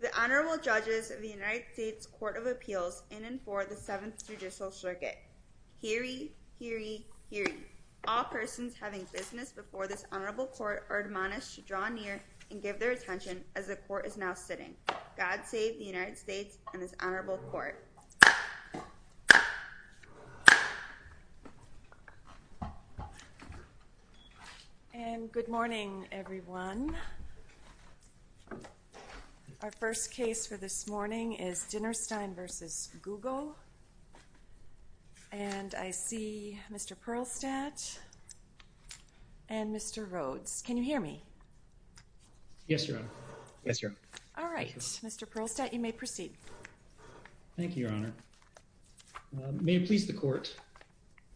The Honorable Judges of the United States Court of Appeals in and for the Seventh Judicial Circuit. Hear ye, hear ye, hear ye. All persons having business before this Honorable Court are admonished to draw near and give their attention as the Court is now sitting. God save the United States and this Honorable Court. And good morning, everyone. Our first case for this morning is Dinerstein v. Google, and I see Mr. Perlstadt and Mr. Rhodes. Can you hear me? Yes, Your Honor. Yes, Your Honor. All right. Thank you, Your Honor. May it please the Court.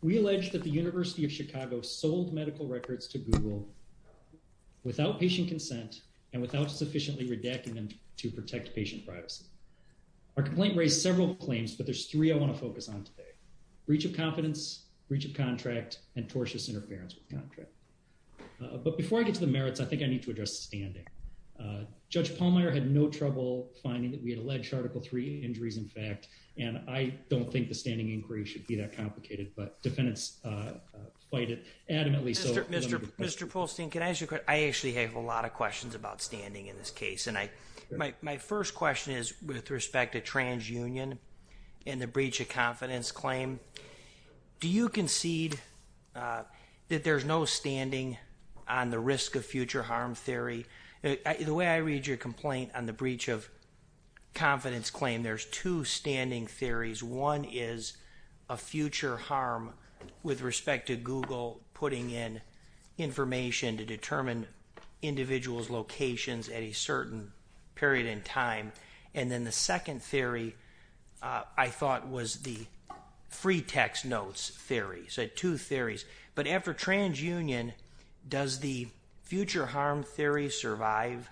We allege that the University of Chicago sold medical records to Google without patient consent and without sufficiently redacting them to protect patient privacy. Our complaint raised several claims, but there's three I want to focus on today. Breach of confidence, breach of contract, and tortious interference with contract. But before I get to the merits, I think I need to address standing. Judge Pallmeyer had no trouble finding that we had alleged Article 3 injuries, in fact, and I don't think the standing inquiry should be that complicated, but defendants fight it adamantly. Mr. Polstein, can I ask you a question? I actually have a lot of questions about standing in this case, and my first question is with respect to transunion and the breach of confidence claim. Do you concede that there's no standing on the confidence claim? There's two standing theories. One is a future harm with respect to Google putting in information to determine individuals locations at a certain period in time, and then the second theory I thought was the free text notes theory. So two theories. But after transunion, does the future harm theory survive?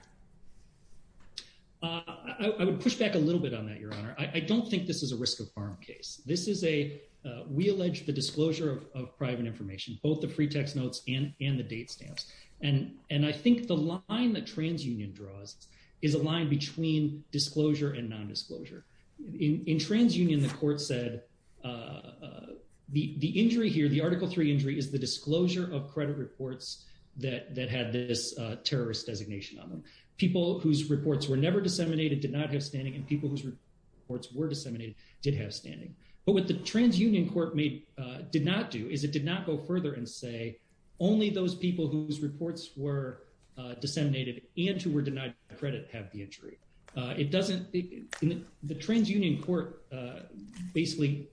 I would push back a little bit on that, Your Honor. I don't think this is a risk of harm case. This is a, we allege the disclosure of private information, both the free text notes and the date stamps. And I think the line that transunion draws is a line between disclosure and non-disclosure. In transunion, the court said the injury here, the Article III injury, is the disclosure of credit reports that had this terrorist designation on them. People whose reports were never disseminated did not have standing, and people whose reports were disseminated did have standing. But what the transunion court did not do is it did not go further and say only those people whose reports were disseminated and who were denied credit have the injury. It doesn't, the transunion court basically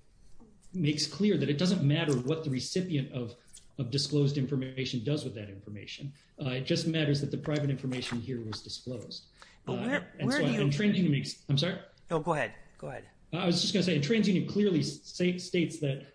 makes clear that it doesn't matter what the recipient of disclosed information does with that information. It just matters that the private information here was disclosed. And so in transunion makes, I'm sorry? No, go ahead. Go ahead. I was just going to say in transunion clearly states that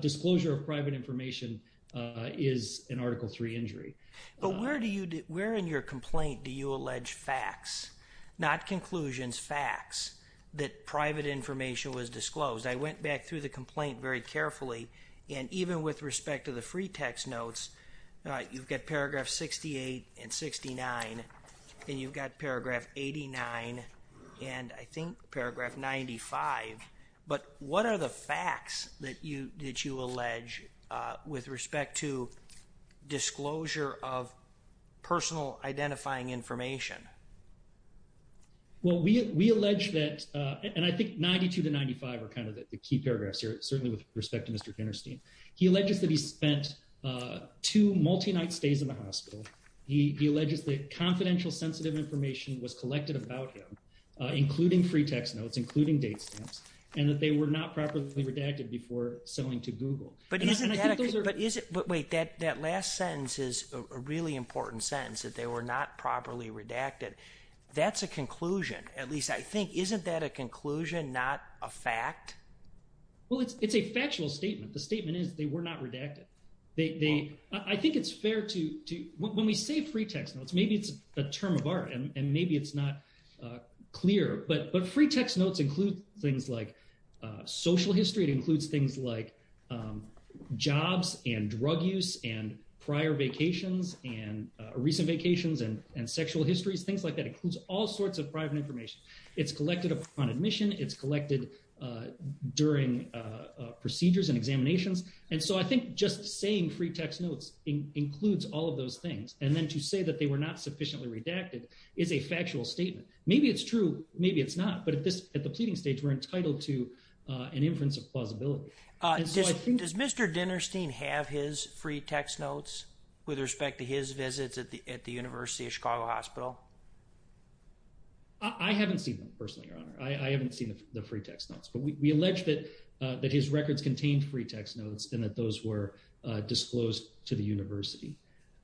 disclosure of private information is an Article III injury. But where do you, where in your complaint do you allege facts, not conclusions, facts, that private information was disclosed? I went back through the complaint very carefully and even with respect to the free text notes, you've got paragraph 68 and 69 and you've got paragraph 89 and I think paragraph 95. But what are the facts that you allege with respect to disclosure of personal identifying information? Well, we allege that, and I think 92 to 95 are the key paragraphs here, certainly with respect to Mr. Kinnerstein. He alleges that he spent two multi-night stays in the hospital. He alleges that confidential sensitive information was collected about him, including free text notes, including date stamps, and that they were not properly redacted before selling to Google. But isn't that, but wait, that last sentence is a really important sentence, that they were not properly redacted. That's a conclusion. At least I think, isn't that a conclusion, not a fact? Well, it's a factual statement. The statement is they were not redacted. I think it's fair to, when we say free text notes, maybe it's a term of art and maybe it's not clear, but free text notes include things like social history. It includes things like jobs and drug use and prior vacations and recent vacations and sexual histories, things like that. It includes all sorts of private information. It's collected upon admission. It's collected during procedures and examinations. And so I think just saying free text notes includes all of those things. And then to say that they were not sufficiently redacted is a factual statement. Maybe it's true. Maybe it's not. But at the pleading stage, we're entitled to an inference of plausibility. Does Mr. Dinnerstein have his free text notes with respect to his visits at the University of Chicago Hospital? I haven't seen them personally, Your Honor. I haven't seen the free text notes, but we allege that his records contained free text notes and that those were disclosed to the university.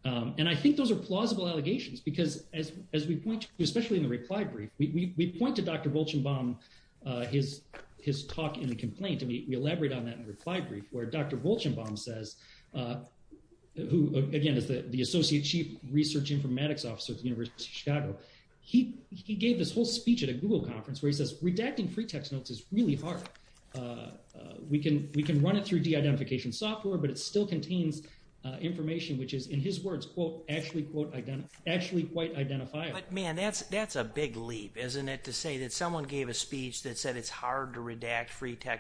And I think those are plausible allegations because as we point to, especially in the reply brief, we point to Dr. Volchenbaum, his talk in the complaint, and we elaborate on that in reply brief where Dr. Volchenbaum says, who again is the Associate Chief Research Informatics Officer at the University of Chicago. He gave this whole speech at a Google conference where he says, redacting free text notes is really hard. We can run it through de-identification software, but it still contains information which is in his words, quote, actually quite identifiable. Man, that's a big leap, isn't it, to say that someone gave a speech that said it's hard to identify.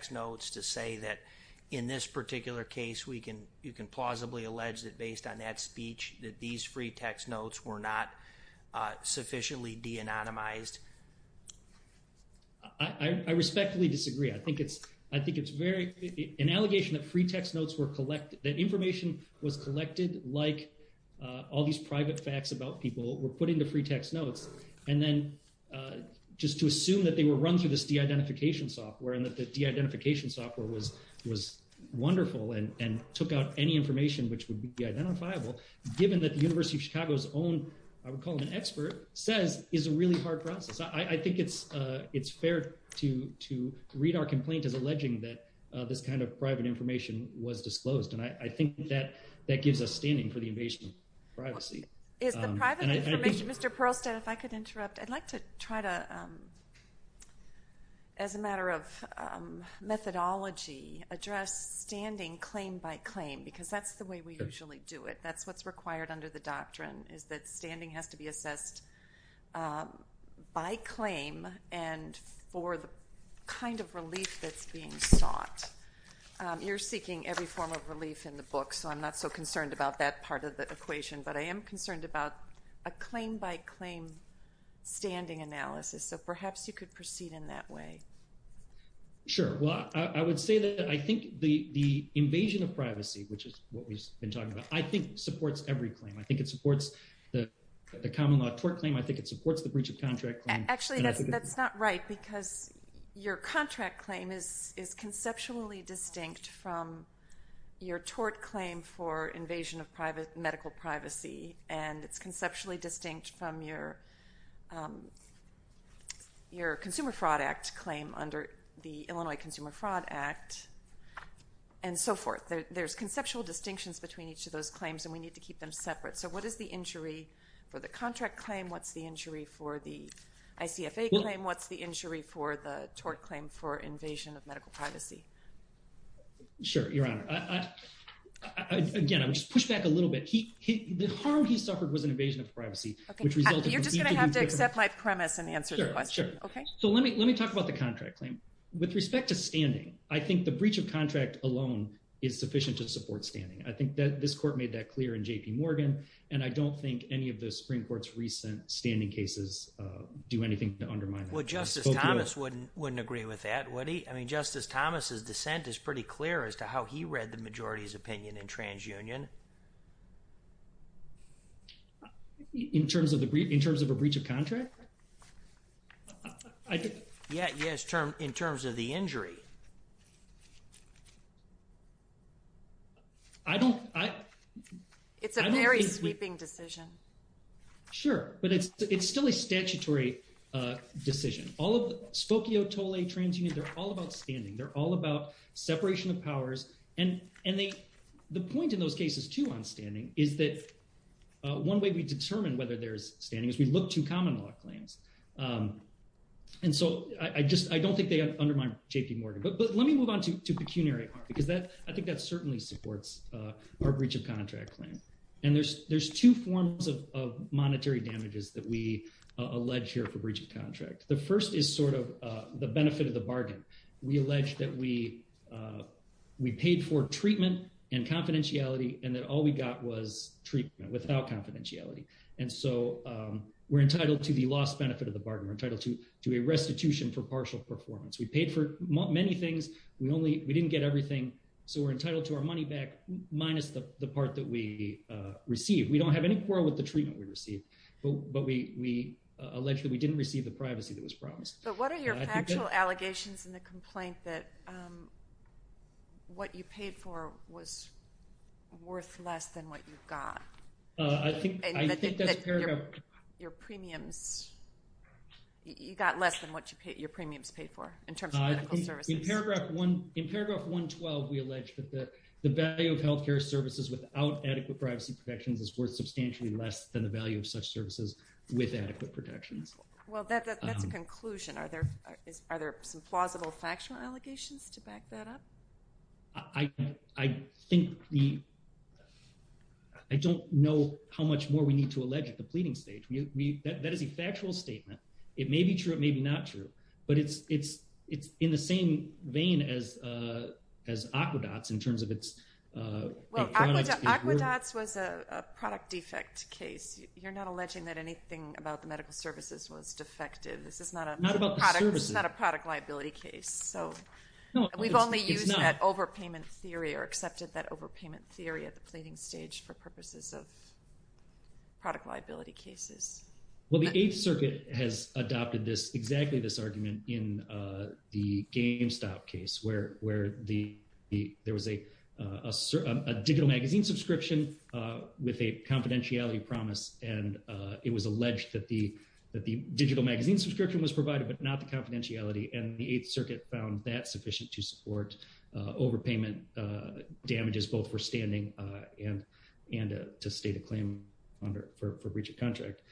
In this particular case, we can, you can plausibly allege that based on that speech, that these free text notes were not sufficiently de-anonymized. I respectfully disagree. I think it's, I think it's very, an allegation that free text notes were collected, that information was collected like all these private facts about people were put into free text notes. And then just to assume that they were run through this de-identification software and that the de-identification software was, was wonderful and, and took out any information which would be identifiable, given that the University of Chicago's own, I would call it an expert, says is a really hard process. I think it's, it's fair to, to read our complaint as alleging that this kind of private information was disclosed. And I think that that gives us standing for the invasion of privacy. Is the private information, Mr. Perlstad, if I could interrupt, I'd like to, as a matter of methodology, address standing claim by claim, because that's the way we usually do it. That's what's required under the doctrine, is that standing has to be assessed by claim and for the kind of relief that's being sought. You're seeking every form of relief in the book, so I'm not so concerned about that part of the equation, but I am concerned about a claim by claim standing analysis. So perhaps you could proceed in that way. Sure. Well, I would say that I think the, the invasion of privacy, which is what we've been talking about, I think supports every claim. I think it supports the common law tort claim. I think it supports the breach of contract claim. Actually, that's, that's not right, because your contract claim is, is conceptually distinct from your tort claim for invasion of private privacy. Your Consumer Fraud Act claim under the Illinois Consumer Fraud Act, and so forth. There's conceptual distinctions between each of those claims, and we need to keep them separate. So what is the injury for the contract claim? What's the injury for the ICFA claim? What's the injury for the tort claim for invasion of medical privacy? Sure, Your Honor. Again, I'll just push back a little bit. The harm he suffered was an invasion of privacy. You're just going to have to accept my premise and answer the question. Okay. So let me, let me talk about the contract claim. With respect to standing, I think the breach of contract alone is sufficient to support standing. I think that this court made that clear in JP Morgan, and I don't think any of the Supreme Court's recent standing cases do anything to undermine that. Well, Justice Thomas wouldn't, wouldn't agree with that, would he? I mean, Justice Thomas's dissent is pretty clear as to how he read the majority's opinion in TransUnion. In terms of the breach, in terms of a breach of contract? Yeah, yes, in terms of the injury. I don't, I don't think. It's a very sweeping decision. Sure, but it's, it's still a statutory decision. All of, Spokio, Tolle, TransUnion, they're all about standing. They're all about separation of powers, and, and they, the point in those cases, too, on standing, is that one way we determine whether there's standing is we look to common law claims. And so I just, I don't think they undermine JP Morgan. But let me move on to, to pecuniary art, because that, I think that certainly supports our breach of contract claim. And there's, there's two forms of, of monetary damages that we allege here for breach of contract. The first is sort of the benefit of the bargain. We allege that we, we paid for treatment and confidentiality, and that all we got was treatment without confidentiality. And so we're entitled to the loss benefit of the bargain. We're entitled to, to a restitution for partial performance. We paid for many things. We only, we didn't get everything, so we're entitled to our money back minus the part that we received. We don't have any quarrel with the treatment we received, but we, we allege that we didn't receive the privacy that was promised. But what are your factual allegations in the complaint that what you paid for was worth less than what you got? I think, I think that's paragraph. Your premiums, you got less than what you paid, your premiums paid for in terms of medical services. In paragraph one, in paragraph 112, we allege that the value of healthcare services without adequate privacy protections is worth substantially less than the value of such services with adequate protections. Well, that's a conclusion. Are there, are there some plausible factual allegations to back that up? I, I think the, I don't know how much more we need to allege at the pleading stage. We, we, that is a factual statement. It may be true, it may be not true, but it's, it's, it's in the same vein as, as Aquedots in terms of its, well, Aquedots was a product defect case. You're not alleging that anything about the medical services was defective. This is not a product, this is not a product liability case. So we've only used that overpayment theory or accepted that overpayment theory at the pleading stage for purposes of product liability cases. Well, the Eighth Circuit has adopted this, exactly this argument in the GameStop case where, where the, the, there was a, a digital magazine subscription with a confidentiality promise and it was alleged that the, that the digital magazine subscription was provided, but not the confidentiality and the Eighth Circuit found that sufficient to support overpayment damages, both for standing and, and to state a claim under, for, for breach of contract.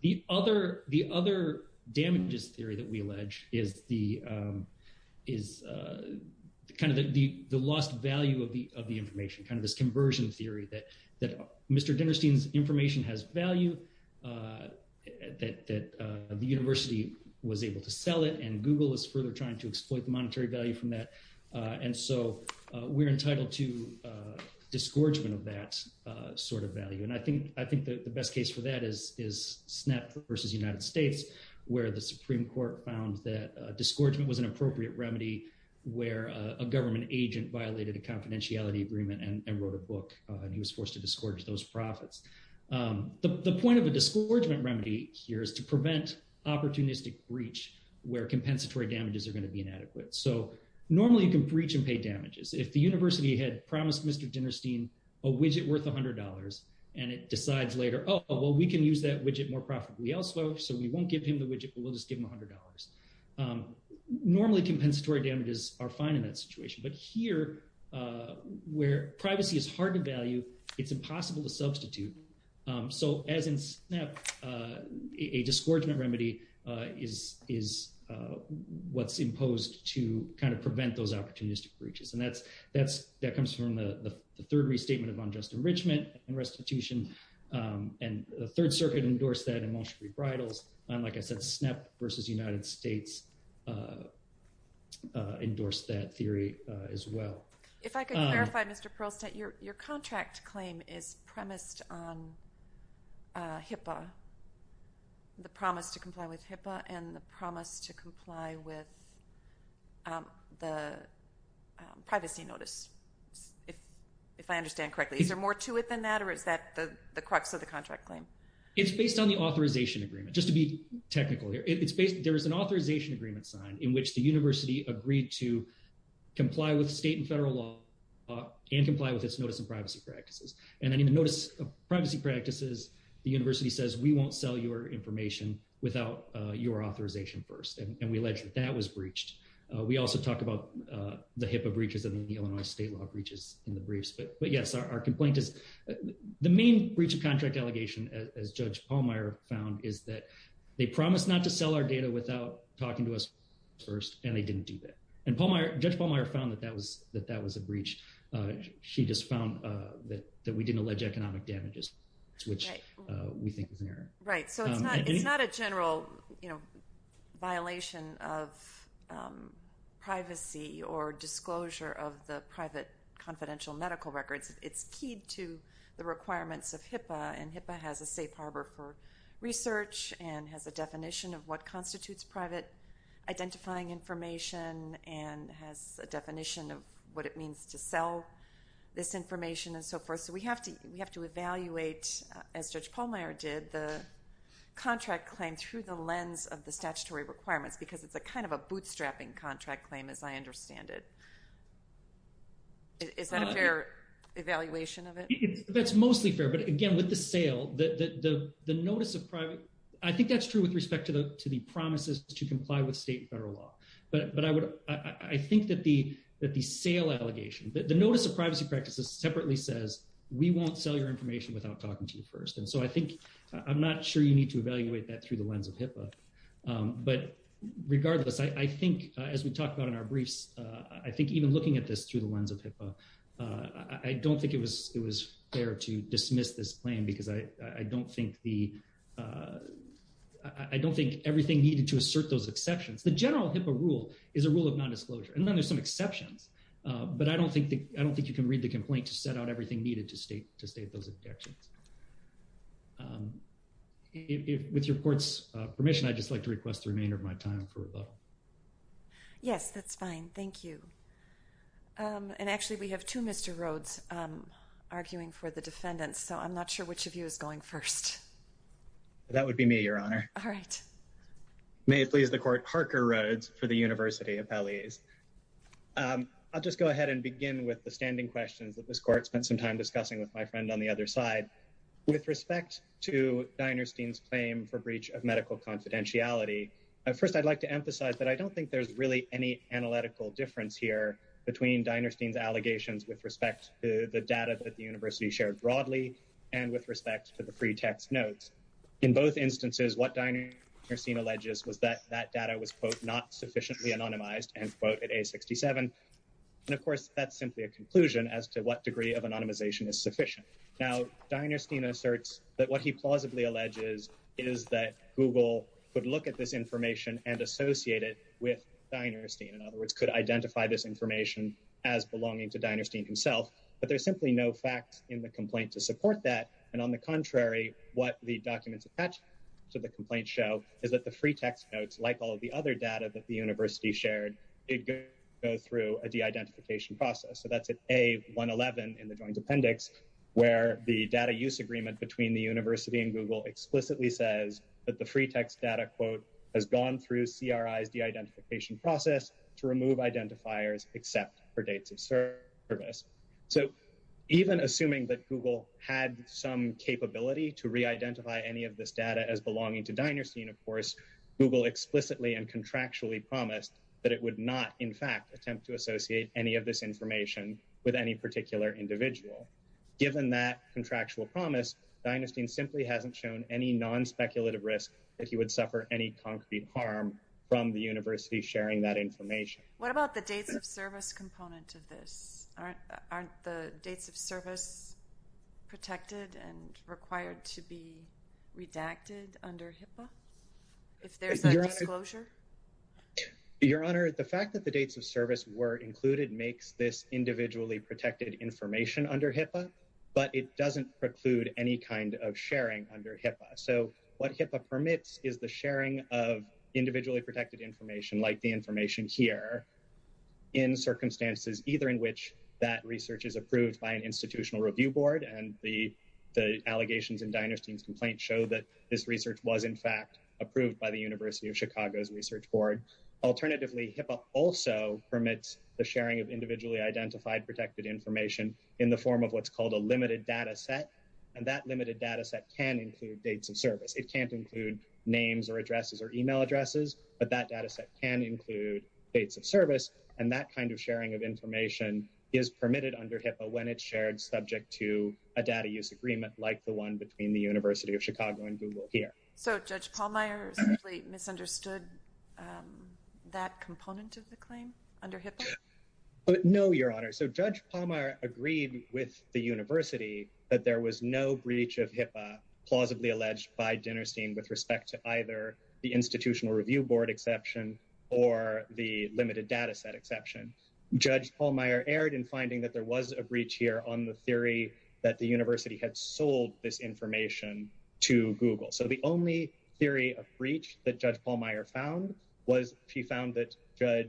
The other, the other damages theory that we allege is the, is kind of the, the, the lost value of the, of the information, kind of this conversion theory that, that Mr. Dinerstein's information has value, that, that the university was able to sell it and Google is further trying to exploit the monetary value from that. And so we're entitled to disgorgement of that sort of value. And I think, I think the best case for that is, is SNAP versus United States, where the Supreme Court found that disgorgement was an appropriate remedy where a government agent violated a confidentiality agreement and wrote a book and he was forced to disgorge those profits. The, the point of a disgorgement remedy here is to prevent opportunistic breach where compensatory damages are going to be inadequate. So normally you can breach and pay damages. If the university had promised Mr. Dinerstein a widget worth a hundred dollars and it decides later, oh, well, we can use that widget more profitably elsewhere. So we won't give him the widget, but we'll just give him a hundred dollars. Normally compensatory damages are fine in that where privacy is hard to value, it's impossible to substitute. So as in SNAP, a disgorgement remedy is, is what's imposed to kind of prevent those opportunistic breaches. And that's, that's, that comes from the third restatement of unjust enrichment and restitution. And the third circuit endorsed that in Montgomery Bridles. And like I said, SNAP versus United States endorsed that theory as well. If I could clarify, Mr. Perlstadt, your, your contract claim is premised on HIPAA, the promise to comply with HIPAA and the promise to comply with the privacy notice. If, if I understand correctly, is there more to it than that? Or is that the, the crux of the contract claim? It's based on the authorization agreement, just to be technical here. It's based, there is an authorization agreement sign in which the state and federal law and comply with its notice of privacy practices. And then in the notice of privacy practices, the university says, we won't sell your information without your authorization first. And we alleged that that was breached. We also talk about the HIPAA breaches and the Illinois state law breaches in the briefs, but, but yes, our complaint is the main breach of contract allegation as judge Pallmeyer found is that they promised not to sell our data without talking to us first, and they didn't do that. And Pallmeyer, judge Pallmeyer found that that was, that that was a breach. She just found that, that we didn't allege economic damages, which we think is an error. Right. So it's not, it's not a general, you know, violation of privacy or disclosure of the private confidential medical records. It's keyed to the requirements of HIPAA and HIPAA has a safe harbor for research and has a definition of what identifying information and has a definition of what it means to sell this information and so forth. So we have to, we have to evaluate as judge Pallmeyer did the contract claim through the lens of the statutory requirements, because it's a kind of a bootstrapping contract claim, as I understand it. Is that a fair evaluation of it? That's mostly fair, but again, with the sale, the notice of private, I think that's true with respect to the, to the promises to comply with state and federal law. But, but I would, I think that the, that the sale allegation, the notice of privacy practices separately says, we won't sell your information without talking to you first. And so I think, I'm not sure you need to evaluate that through the lens of HIPAA. But regardless, I think as we talked about in our briefs, I think even looking at this through the lens of HIPAA, I don't think it was, it was fair to dismiss this plan because I, I don't think the, I don't think everything needed to assert those exceptions. The general HIPAA rule is a rule of non-disclosure, and then there's some exceptions. But I don't think the, I don't think you can read the complaint to set out everything needed to state, to state those objections. With your court's permission, I'd just like to request the remainder of my time for questions. We have two Mr. Rhodes, arguing for the defendants. So I'm not sure which of you is going first. That would be me, Your Honor. All right. May it please the court, Parker Rhodes for the University Appellees. I'll just go ahead and begin with the standing questions that this court spent some time discussing with my friend on the other side. With respect to Dinerstein's claim for breach of medical confidentiality. First, I'd like to emphasize that I don't think there's really any analytical difference here between Dinerstein's allegations with respect to the data that the university shared broadly, and with respect to the free text notes. In both instances, what Dinerstein alleges was that that data was, quote, not sufficiently anonymized, end quote, at A67. And of course, that's simply a conclusion as to what degree of anonymization is sufficient. Now, Dinerstein asserts that what he plausibly alleges is that Google could look at this in other words, could identify this information as belonging to Dinerstein himself. But there's simply no facts in the complaint to support that. And on the contrary, what the documents attached to the complaint show is that the free text notes, like all of the other data that the university shared, it goes through a de-identification process. So that's at A111 in the joint appendix, where the data use agreement between the university and Google explicitly says that the free text data, quote, has gone through CRI's de-identification process to remove identifiers except for dates of service. So even assuming that Google had some capability to re-identify any of this data as belonging to Dinerstein, of course, Google explicitly and contractually promised that it would not, in fact, attempt to associate any of this information with any particular individual. Given that contractual promise, Dinerstein simply hasn't shown any non-speculative risk that he would suffer any concrete harm from the university sharing that information. What about the dates of service component of this? Aren't the dates of service protected and required to be redacted under HIPAA if there's a disclosure? Your Honor, the fact that the dates of service were included makes this individually protected information under HIPAA, but it doesn't preclude any kind of sharing under HIPAA. So what HIPAA permits is the sharing of individually protected information like the information here in circumstances either in which that research is approved by an institutional review board, and the allegations in Dinerstein's complaint show that this research was, in fact, approved by the University of Chicago's research board. Alternatively, HIPAA also permits the sharing of individually identified protected information in the form of what's called a limited data set, and that limited data set can include dates of service. It can't include names or addresses or email addresses, but that data set can include dates of service, and that kind of sharing of information is permitted under HIPAA when it's shared subject to a data use agreement like the one between the University of Chicago and Google here. So Judge Pallmeyer simply misunderstood that component of the claim under HIPAA? No, Your Honor. So Judge Pallmeyer agreed with the university that there was no breach of HIPAA plausibly alleged by Dinerstein with respect to either the institutional review board exception or the limited data set exception. Judge Pallmeyer erred in finding that there was a breach here on the theory that the university had sold this found was she found that Judge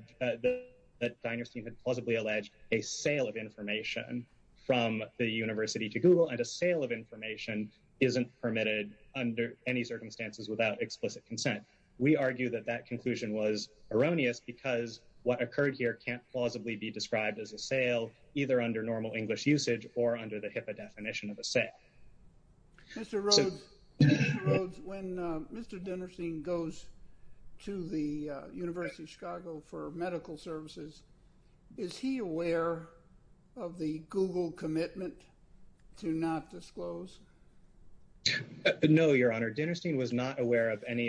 Dinerstein had plausibly alleged a sale of information from the university to Google, and a sale of information isn't permitted under any circumstances without explicit consent. We argue that that conclusion was erroneous because what occurred here can't plausibly be described as a sale either under normal English usage or under the HIPAA university statute. So Judge Pallmeyer is not aware of any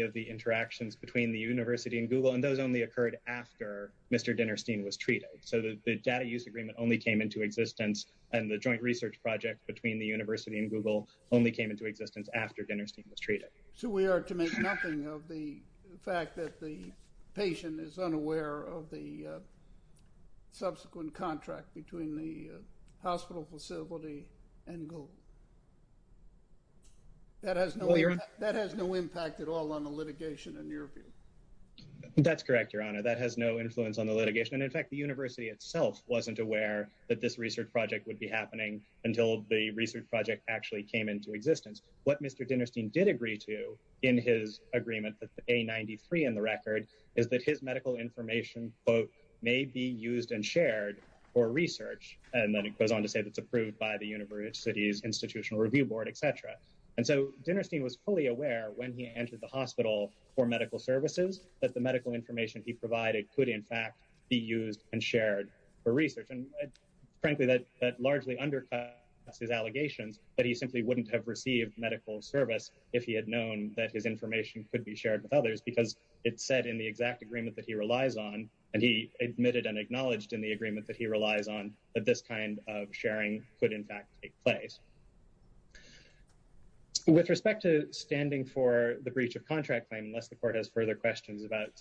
of the interactions between the university and Google, and those only occurred after Mr. Dinerstein was treated. So the data use agreement only came into existence and the joint research project between the university and Google only came into existence after Dinerstein was treated. So we are to make nothing of the fact that the patient is unaware of the subsequent contract between the hospital facility and Google. That has no impact at all on the litigation in your view. That's correct, Your Honor. That has no influence on the litigation, and in fact, the university itself wasn't aware that this research project would be happening until the research project actually came into existence. What Mr. Dinerstein did agree to in his agreement, the A93 in the record, is that his medical information may be used and shared for research, and then it goes on to say that it's approved by the university's institutional review board, etc. And so Dinerstein was fully aware when he entered the hospital for medical services that the medical information he provided could in fact be used and shared for research. And frankly, that largely undercuts his allegations that he simply wouldn't have received medical service if he had known that his information could be shared with others, because it said in the exact agreement that he relies on, and he admitted and acknowledged in the agreement that he relies on, that this kind of sharing could in fact take place. With respect to standing for the breach of contract claim, unless the court has further questions about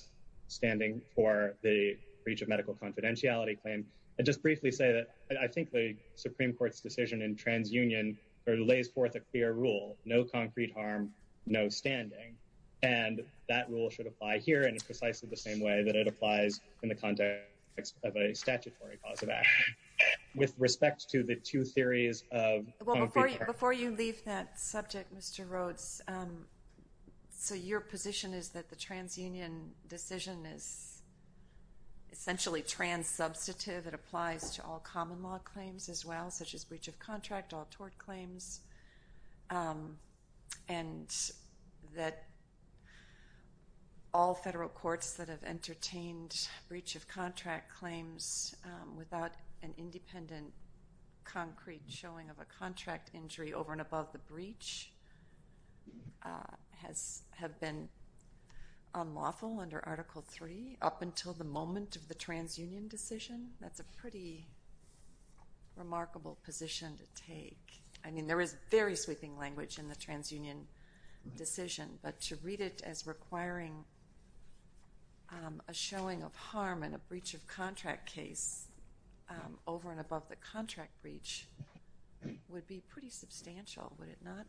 standing for the breach of medical confidentiality claim, I'd just briefly say that I think the Supreme Court's decision in TransUnion lays forth a clear rule, no concrete harm, no standing. And that rule should apply here in precisely the same way that it applies in the context of a statutory cause of action. With respect to the two theories of concrete harm. Before you leave that subject, Mr. Rhodes, so your position is that the TransUnion decision is essentially trans-substantive. It applies to all common law claims as well, such as breach of contract, all tort claims. And that all federal courts that have entertained breach of contract claims without an independent concrete showing of a contract injury over and above the contract breach would be pretty substantial, would it not?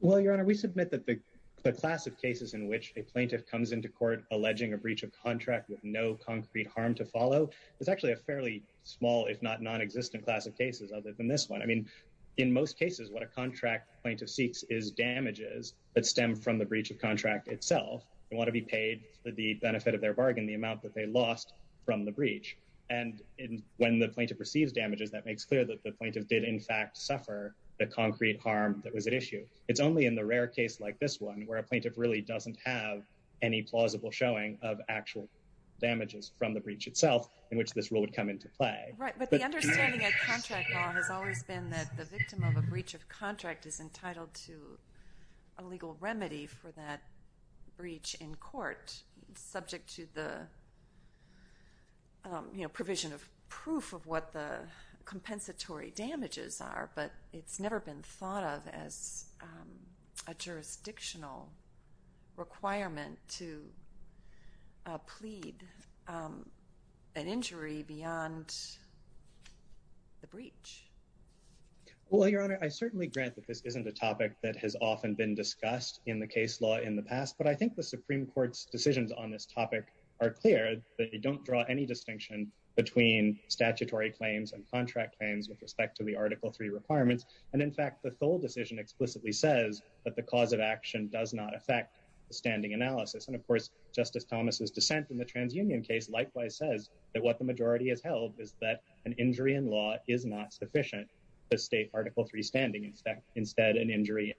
Well, Your Honor, we submit that the class of cases in which a plaintiff comes into court alleging a breach of contract with no concrete harm to follow is actually a fairly small, if not non-existent class of cases other than this one. I mean, in most cases, what a contract plaintiff seeks is damages that stem from the breach of contract itself. They want to be paid the benefit of their bargain, the amount that they lost from the breach. And when the plaintiff receives damages, that makes clear that the plaintiff did in fact suffer the concrete harm that was at issue. It's only in the rare case like this one where a plaintiff really doesn't have any plausible showing of actual damages from the breach itself in which this rule would come into play. Right, but the understanding at contract law has always been that the victim of a breach of contract is entitled to a legal remedy for that breach in court subject to the provision of proof of what the compensatory damages are. But it's never been thought of as a jurisdictional requirement to plead an injury beyond the breach. Well, Your Honor, I certainly grant that this isn't a topic that has often been discussed in the case law in the past, but I think the Supreme Court's decisions on this topic are clear. They don't draw any distinction between statutory claims and contract claims with respect to the Article III requirements. And in fact, the Thole decision explicitly says that the cause of action does not affect the standing analysis. And of course, Justice Thomas's dissent in the TransUnion case likewise says that what the majority has held is that an injury in law is not sufficient to state Article III standing. Instead, an injury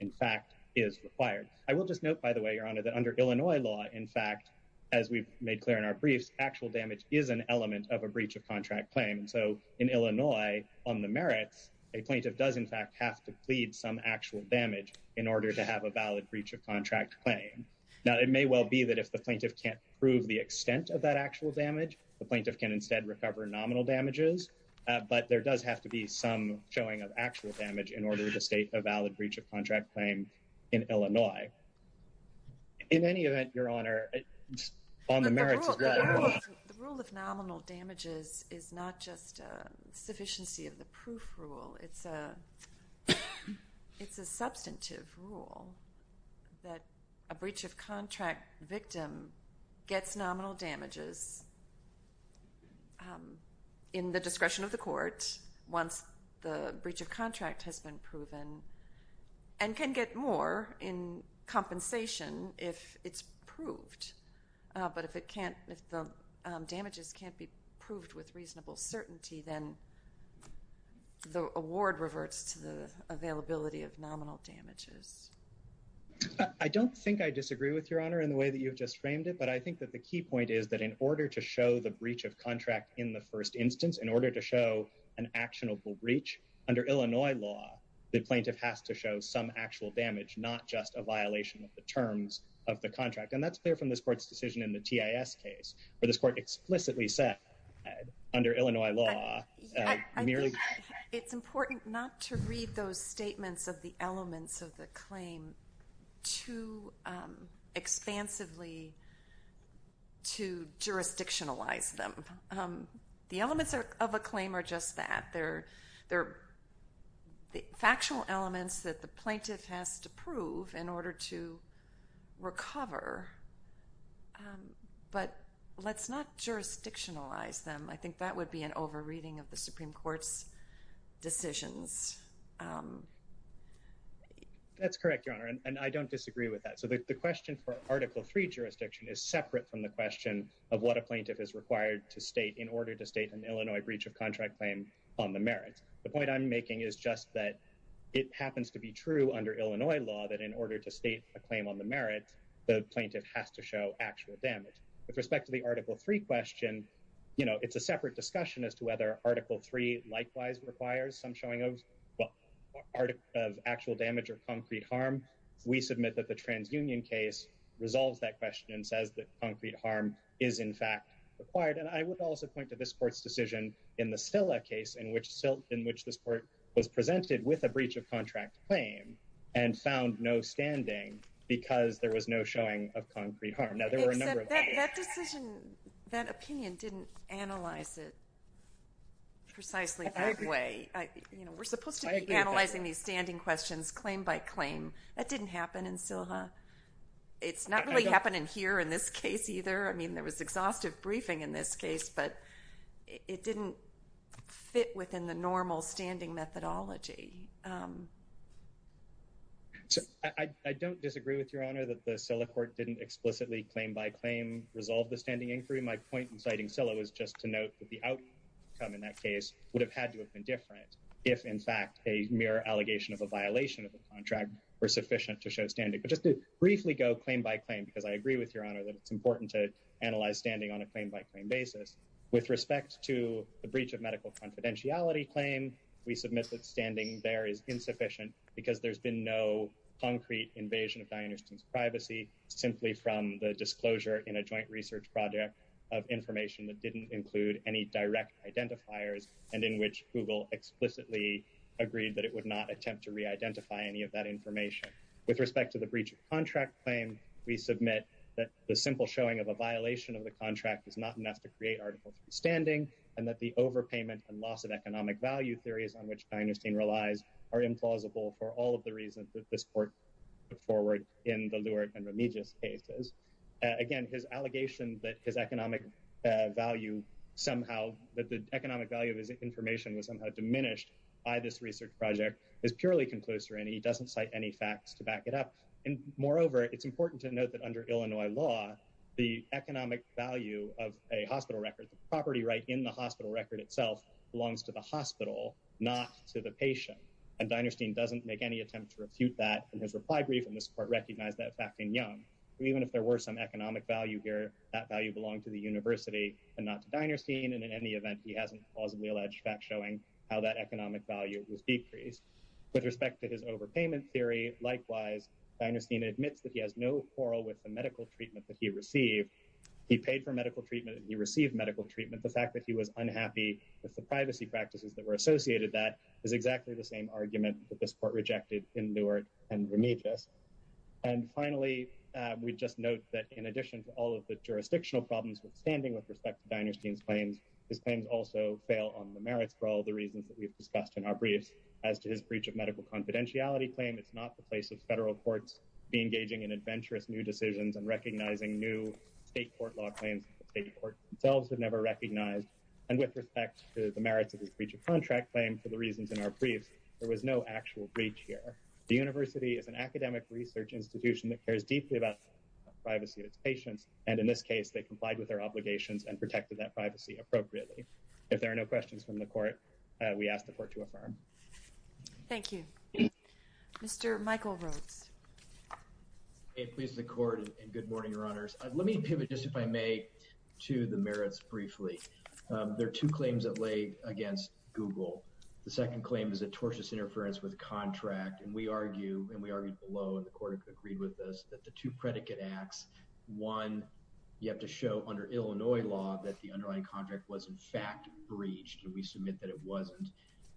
in fact is required. I will just note, by the way, Your Honor, that under Illinois law, in fact, as we've made clear in our briefs, actual damage is an element of a breach of contract claim. And so in Illinois, on the merits, a plaintiff does, in fact, have to plead some actual damage in order to have a valid breach of contract claim. Now, it may well be that if the plaintiff can't prove the extent of that actual damage, the plaintiff can instead recover nominal damages. But there does have to be some showing of actual damage in order to state a valid breach of contract claim in Illinois. In any event, Your Honor, on the merits of that— But the rule of nominal damages is not just a sufficiency of the proof rule. It's a substantive rule that a breach of contract victim gets nominal damages in the discretion of the court once the compensation, if it's proved. But if it can't, if the damages can't be proved with reasonable certainty, then the award reverts to the availability of nominal damages. I don't think I disagree with Your Honor in the way that you've just framed it. But I think that the key point is that in order to show the breach of contract in the first instance, in order to show an actionable breach, under Illinois law, the plaintiff has to show some actual damage, not just a violation of the terms of the contract. And that's clear from this court's decision in the TIS case, where this court explicitly said, under Illinois law, merely— It's important not to read those statements of the elements of the claim too expansively to jurisdictionalize them. The elements of a claim are just that. They're the factual elements that the plaintiff has to prove in order to recover. But let's not jurisdictionalize them. I think that would be an overreading of the Supreme Court's decisions. That's correct, Your Honor, and I don't disagree with that. So the question for Article III jurisdiction is separate from the question of what a plaintiff is required to state an Illinois breach of contract claim on the merits. The point I'm making is just that it happens to be true under Illinois law that in order to state a claim on the merits, the plaintiff has to show actual damage. With respect to the Article III question, it's a separate discussion as to whether Article III likewise requires some showing of actual damage or concrete harm. We submit that the TransUnion case resolves that question and says that concrete harm is, in fact, required. And I would also point to this Court's decision in the SILHA case in which this Court was presented with a breach of contract claim and found no standing because there was no showing of concrete harm. Now, there were a number of— That decision, that opinion didn't analyze it precisely that way. We're supposed to be analyzing these standing questions claim by claim. That didn't happen in SILHA. It's not really happening here in this case either. I mean, there was exhaustive briefing in this case, but it didn't fit within the normal standing methodology. I don't disagree with Your Honor that the SILHA Court didn't explicitly claim by claim resolve the standing inquiry. My point in citing SILHA was just to note that the outcome in that case would have had to have been different if, in fact, a mere allegation of a violation of contract were sufficient to show standing. But just to briefly go claim by claim because I agree with Your Honor that it's important to analyze standing on a claim by claim basis. With respect to the breach of medical confidentiality claim, we submit that standing there is insufficient because there's been no concrete invasion of Diane Ersten's privacy simply from the disclosure in a joint research project of information that didn't include any direct identifiers and in which Google explicitly agreed that it would not attempt to re-identify any of that information. With respect to the breach of contract claim, we submit that the simple showing of a violation of the contract is not enough to create articles of standing and that the overpayment and loss of economic value theories on which Diane Ersten relies are implausible for all of the reasons that this Court put forward in the Lourdes and Remigius cases. Again, his allegation that his economic value somehow, that the economic value of his information was somehow diminished by this research project is purely conclusive and he doesn't cite any facts to back it up. And moreover, it's important to note that under Illinois law, the economic value of a hospital record, the property right in the hospital record itself belongs to the hospital, not to the patient. And Diane Ersten doesn't make any attempt to refute that in his reply brief and this Court recognized that fact in Young. Even if there were some economic value here, that value belonged to the university and not to Diane Ersten, and in any event, he hasn't plausibly alleged facts showing how that economic value was decreased. With respect to his overpayment theory, likewise, Diane Ersten admits that he has no quarrel with the medical treatment that he received. He paid for medical treatment and he received medical treatment. The fact that he was unhappy with the privacy practices that were associated with that is exactly the same argument that this we just note that in addition to all of the jurisdictional problems with standing with respect to Diane Ersten's claims, his claims also fail on the merits for all the reasons that we've discussed in our briefs. As to his breach of medical confidentiality claim, it's not the place of federal courts be engaging in adventurous new decisions and recognizing new state court law claims that the state courts themselves have never recognized. And with respect to the merits of his breach of contract claim, for the reasons in our briefs, there was no actual breach here. The university is an academic research institution that cares deeply about privacy of its patients, and in this case, they complied with their obligations and protected that privacy appropriately. If there are no questions from the court, we ask the court to affirm. Thank you. Mr. Michael Rhodes. Please, the court, and good morning, Your Honors. Let me pivot just if I may to the merits briefly. There are two claims that lay against Google. The second claim is a tortious interference with contract, and we argue, and we argued below, and the court agreed with us that the two predicate acts, one, you have to show under Illinois law that the underlying contract was in fact breached, and we submit that it wasn't.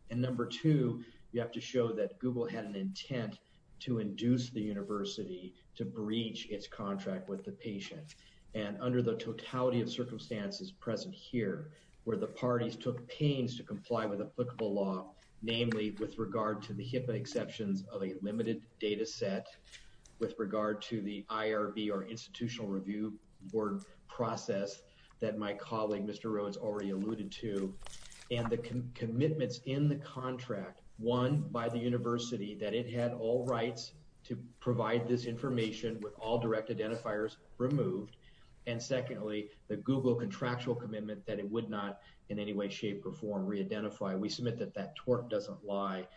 And number two, you have to show that Google had an intent to induce the university to breach its contract with the patient. And under the totality of circumstances present here, where the parties took pains to comply with applicable law, namely with regard to the HIPAA exceptions of a limited data set, with regard to the IRB or Institutional Review Board process that my colleague, Mr. Rhodes, already alluded to, and the commitments in the contract, one, by the university that it had all rights to provide this information with all direct identifiers removed, and secondly, the Google contractual commitment that it would not in any way, shape, or form re-identify. We submit that that tort doesn't lie.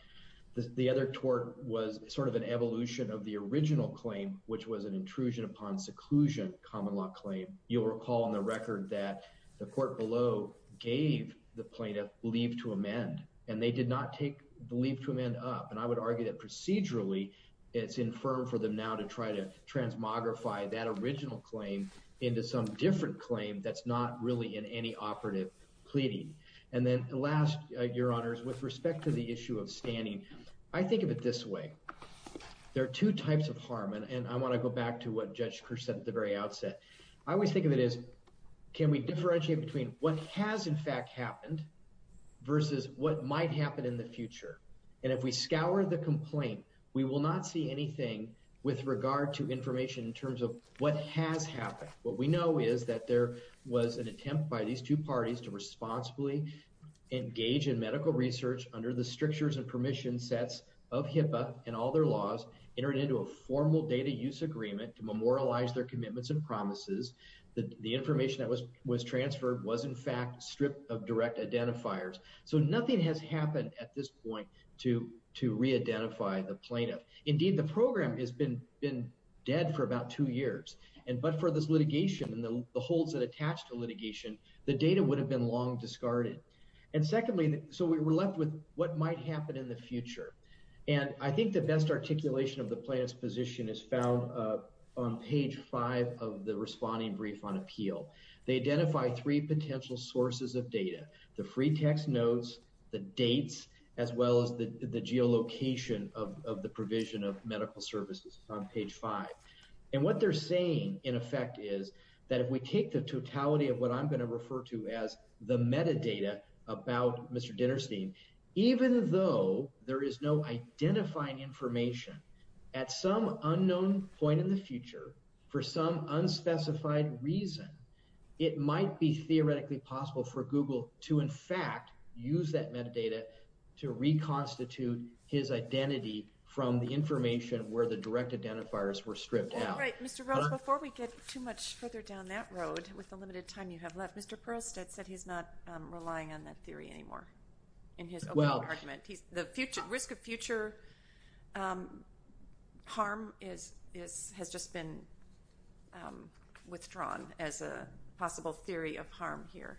The other tort was sort of an evolution of the original claim, which was an intrusion upon seclusion common law claim. You'll recall on the record that the court below gave the plaintiff leave to amend, and they did not take the leave to amend up, and I would argue that procedurally it's infirm for them now to try to transmogrify that original claim into some different claim that's not really in any operative pleading. And then last, your honors, with respect to the issue of standing, I think of it this way. There are two types of harm, and I want to go back to what Judge Kirsch said at the very outset. I always think of it as can we differentiate between what has in fact happened versus what might happen in the future, and if we scour the complaint, we will not see anything with regard to information in terms of what has happened. What we know is that there was an attempt by these two parties to responsibly engage in medical research under the strictures and permission sets of HIPAA and all their laws, entered into a formal data use agreement to memorialize their commitments and promises. The information that was transferred was in fact stripped of direct identifiers, so nothing has happened at this point to re-identify the plaintiff. Indeed, the program has been dead for about two years, and but for this litigation and the holds that attach to litigation, the data would have been long discarded. And secondly, so we were left with what might happen in the future, and I think the best articulation of the plaintiff's position is found on page five of the responding brief on appeal. They identify three potential sources of data, the free text notes, the dates, as well as the geolocation of provision of medical services on page five. And what they're saying in effect is that if we take the totality of what I'm going to refer to as the metadata about Mr. Dinerstein, even though there is no identifying information, at some unknown point in the future, for some unspecified reason, it might be theoretically possible for Google to in fact use that metadata to reconstitute his identity from the information where the direct identifiers were stripped out. All right, Mr. Rose, before we get too much further down that road with the limited time you have left, Mr. Perlstead said he's not relying on that theory anymore in his opening argument. He's, the future, risk of future harm is, has just been withdrawn as a possible theory of harm here.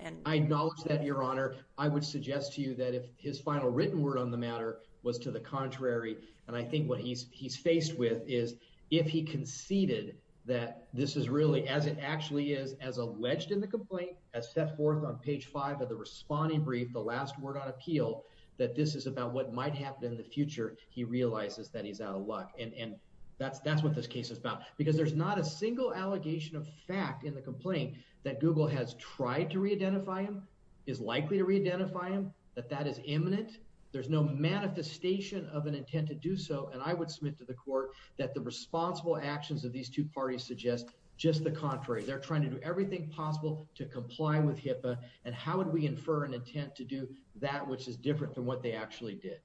And I acknowledge that, Your Honor. I would suggest to you that if his final written word on the matter was to the contrary, and I think what he's faced with is if he conceded that this is really, as it actually is, as alleged in the complaint, as set forth on page five of the responding brief, the last word on appeal, that this is about what might happen in the future, he realizes that he's out of luck. And that's what this case is about. Because there's not a single allegation of fact in the complaint that Google has tried to reidentify him, is likely to reidentify him, that that is imminent. There's no manifestation of an intent to do so. And I would submit to the court that the responsible actions of these two parties suggest just the contrary. They're trying to do everything possible to comply with HIPAA. And how would we infer an intent to do that which is different than what they actually did?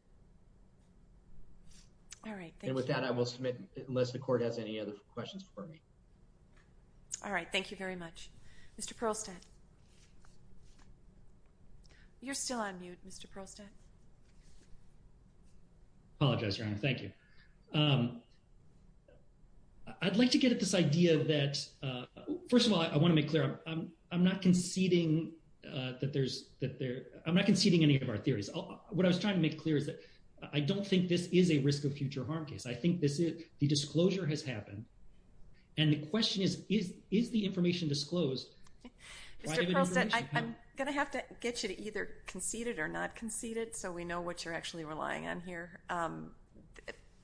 All right. And with that, I will submit unless the court has any other questions for me. All right. Thank you very much. Mr. Perlstadt. You're still on mute, Mr. Perlstadt. I apologize, Your Honor. Thank you. I'd like to get at this idea that, first of all, I want to make clear I'm not conceding that there's, I'm not conceding any of our theories. What I was trying to make clear is that I don't think this is a risk of future harm case. I think the disclosure has happened. And the question is, is the information disclosed? Mr. Perlstadt, I'm going to have to get you to either concede it or not concede it, so we know what you're actually relying on here.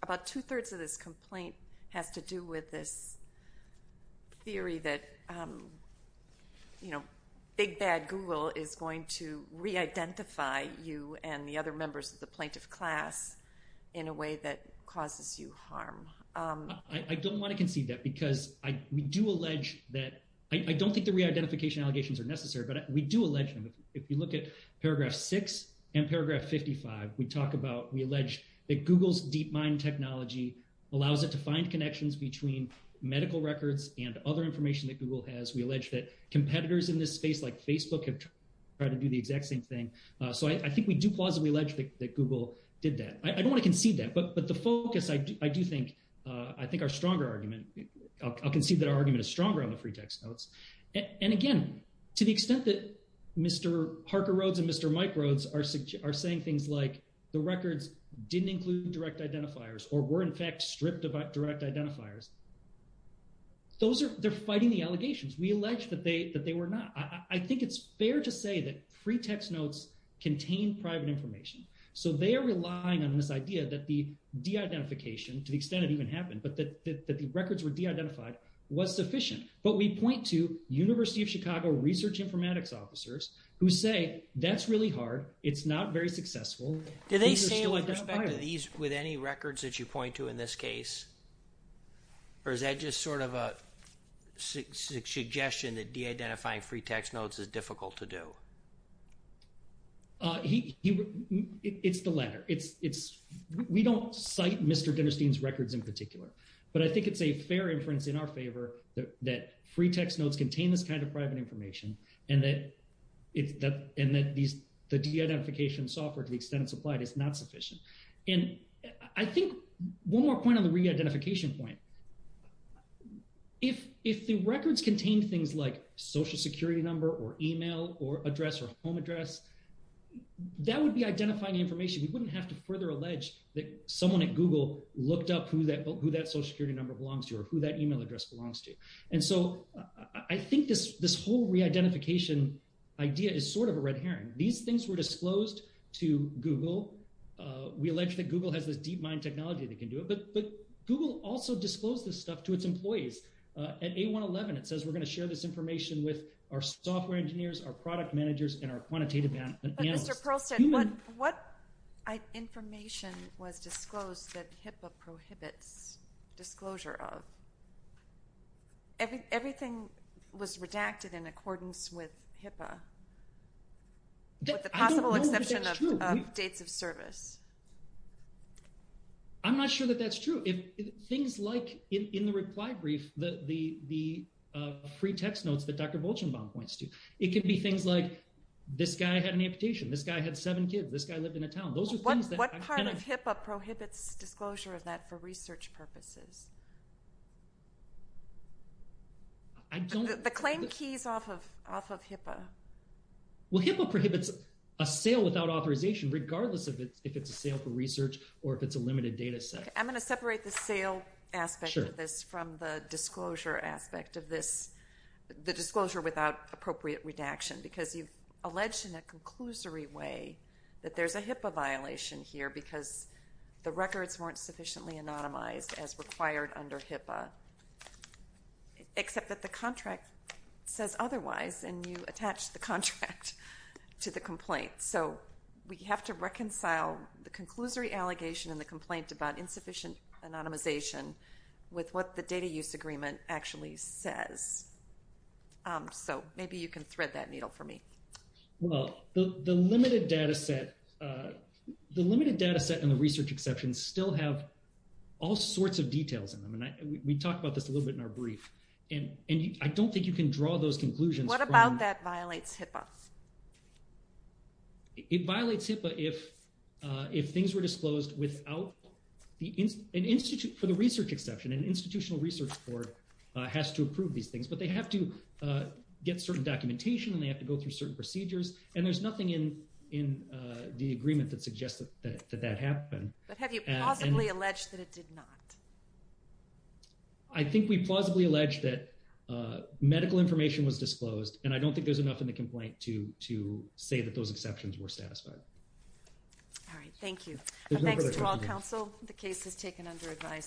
About two-thirds of this complaint has to do with this theory that big bad Google is going to re-identify you and the other members of the plaintiff class in a way that causes you harm. I don't want to concede that because we do allege that, I don't think the re-identification allegations are necessary, but we do allege them. If you look at paragraph 6 and paragraph 55, we talk about, we allege that Google's DeepMind technology allows it to find connections between medical records and other information that Google has. We allege that competitors in this space like Facebook have tried to do the exact same thing. So I think we do plausibly allege that Google did that. I don't want to concede that, but the focus I do think, I think our stronger argument, I'll concede that our argument is stronger on the free text notes. And again, to the extent that Mr. Harker-Rhodes and Mr. Mike Rhodes are saying things like the records didn't include direct identifiers or were in fact stripped of direct identifiers, those are, they're fighting the allegations. We allege that they were not. I think it's fair to say that free text notes contain private information. So they are relying on this idea that the de-identification, to the extent it even happened, but that the records were de-identified was sufficient. But we point to University of Chicago research informatics officers who say that's really hard. It's not very successful. Do they say with respect to these, with any records that you point to in this case? Or is that just sort of a suggestion that de-identifying free text notes is difficult to do? It's the latter. It's, we don't cite Mr. Dinnerstein's records in particular, but I think it's a fair inference in our favor that free text notes contain this kind of private information and that these, the de-identification software to the extent it's applied is not sufficient. And I think one more point on the re-identification point, if the records contained things like social security number or email or address or home address, that would be identifying information. We wouldn't have to further allege that someone at Google looked up who that social security number belongs to or who that email address belongs to. And so I think this whole re-identification idea is sort of a red herring. These things were disclosed to Google. We allege that Google has this deep mind technology that can do it, but Google also disclosed this stuff to its employees. At A111, it says we're going to share this information with our software engineers, our product managers, and our quantitative analysts. But Mr. Perlstein, what information was disclosed that HIPAA prohibits disclosure of? Everything was redacted in accordance with HIPAA, with the possible exception of dates of service. I'm not sure that that's true. Things like in the reply brief, the free text notes that Dr. Bolchenbaum points to, it could be things like this guy had an amputation, this guy had seven kids, this guy lived in a town. Those are things that... What part of HIPAA prohibits disclosure of that for research purposes? The claim key is off of HIPAA. Well, HIPAA prohibits a sale without authorization regardless if it's a sale for research or if it's a limited data set. I'm going to separate the sale aspect of this from the disclosure aspect of this, the disclosure without appropriate redaction, because you've alleged in a conclusory way that there's a HIPAA violation here because the records weren't sufficiently anonymized as required under HIPAA, except that the contract says otherwise and you attach the contract to the complaint. So we have to reconcile the conclusory allegation in the complaint about insufficient anonymization with what the data use agreement actually says. So maybe you can thread that needle for me. Well, the limited data set and the research exceptions still have all sorts of details in them. And we talked about this a little bit in our brief. And I don't think you can draw those conclusions from... What about that violates HIPAA? It violates HIPAA if things were disclosed without... For the research exception, an institutional research board has to approve these things, but they have to get certain documentation and they have to go through certain procedures. And there's nothing in the agreement that suggests that that happened. But have you plausibly alleged that it did not? I think we plausibly alleged that medical information was disclosed, and I don't think there's enough in the complaint to say that those exceptions were satisfied. All right. Thank you. Thanks to all counsel. The case is taken under advice.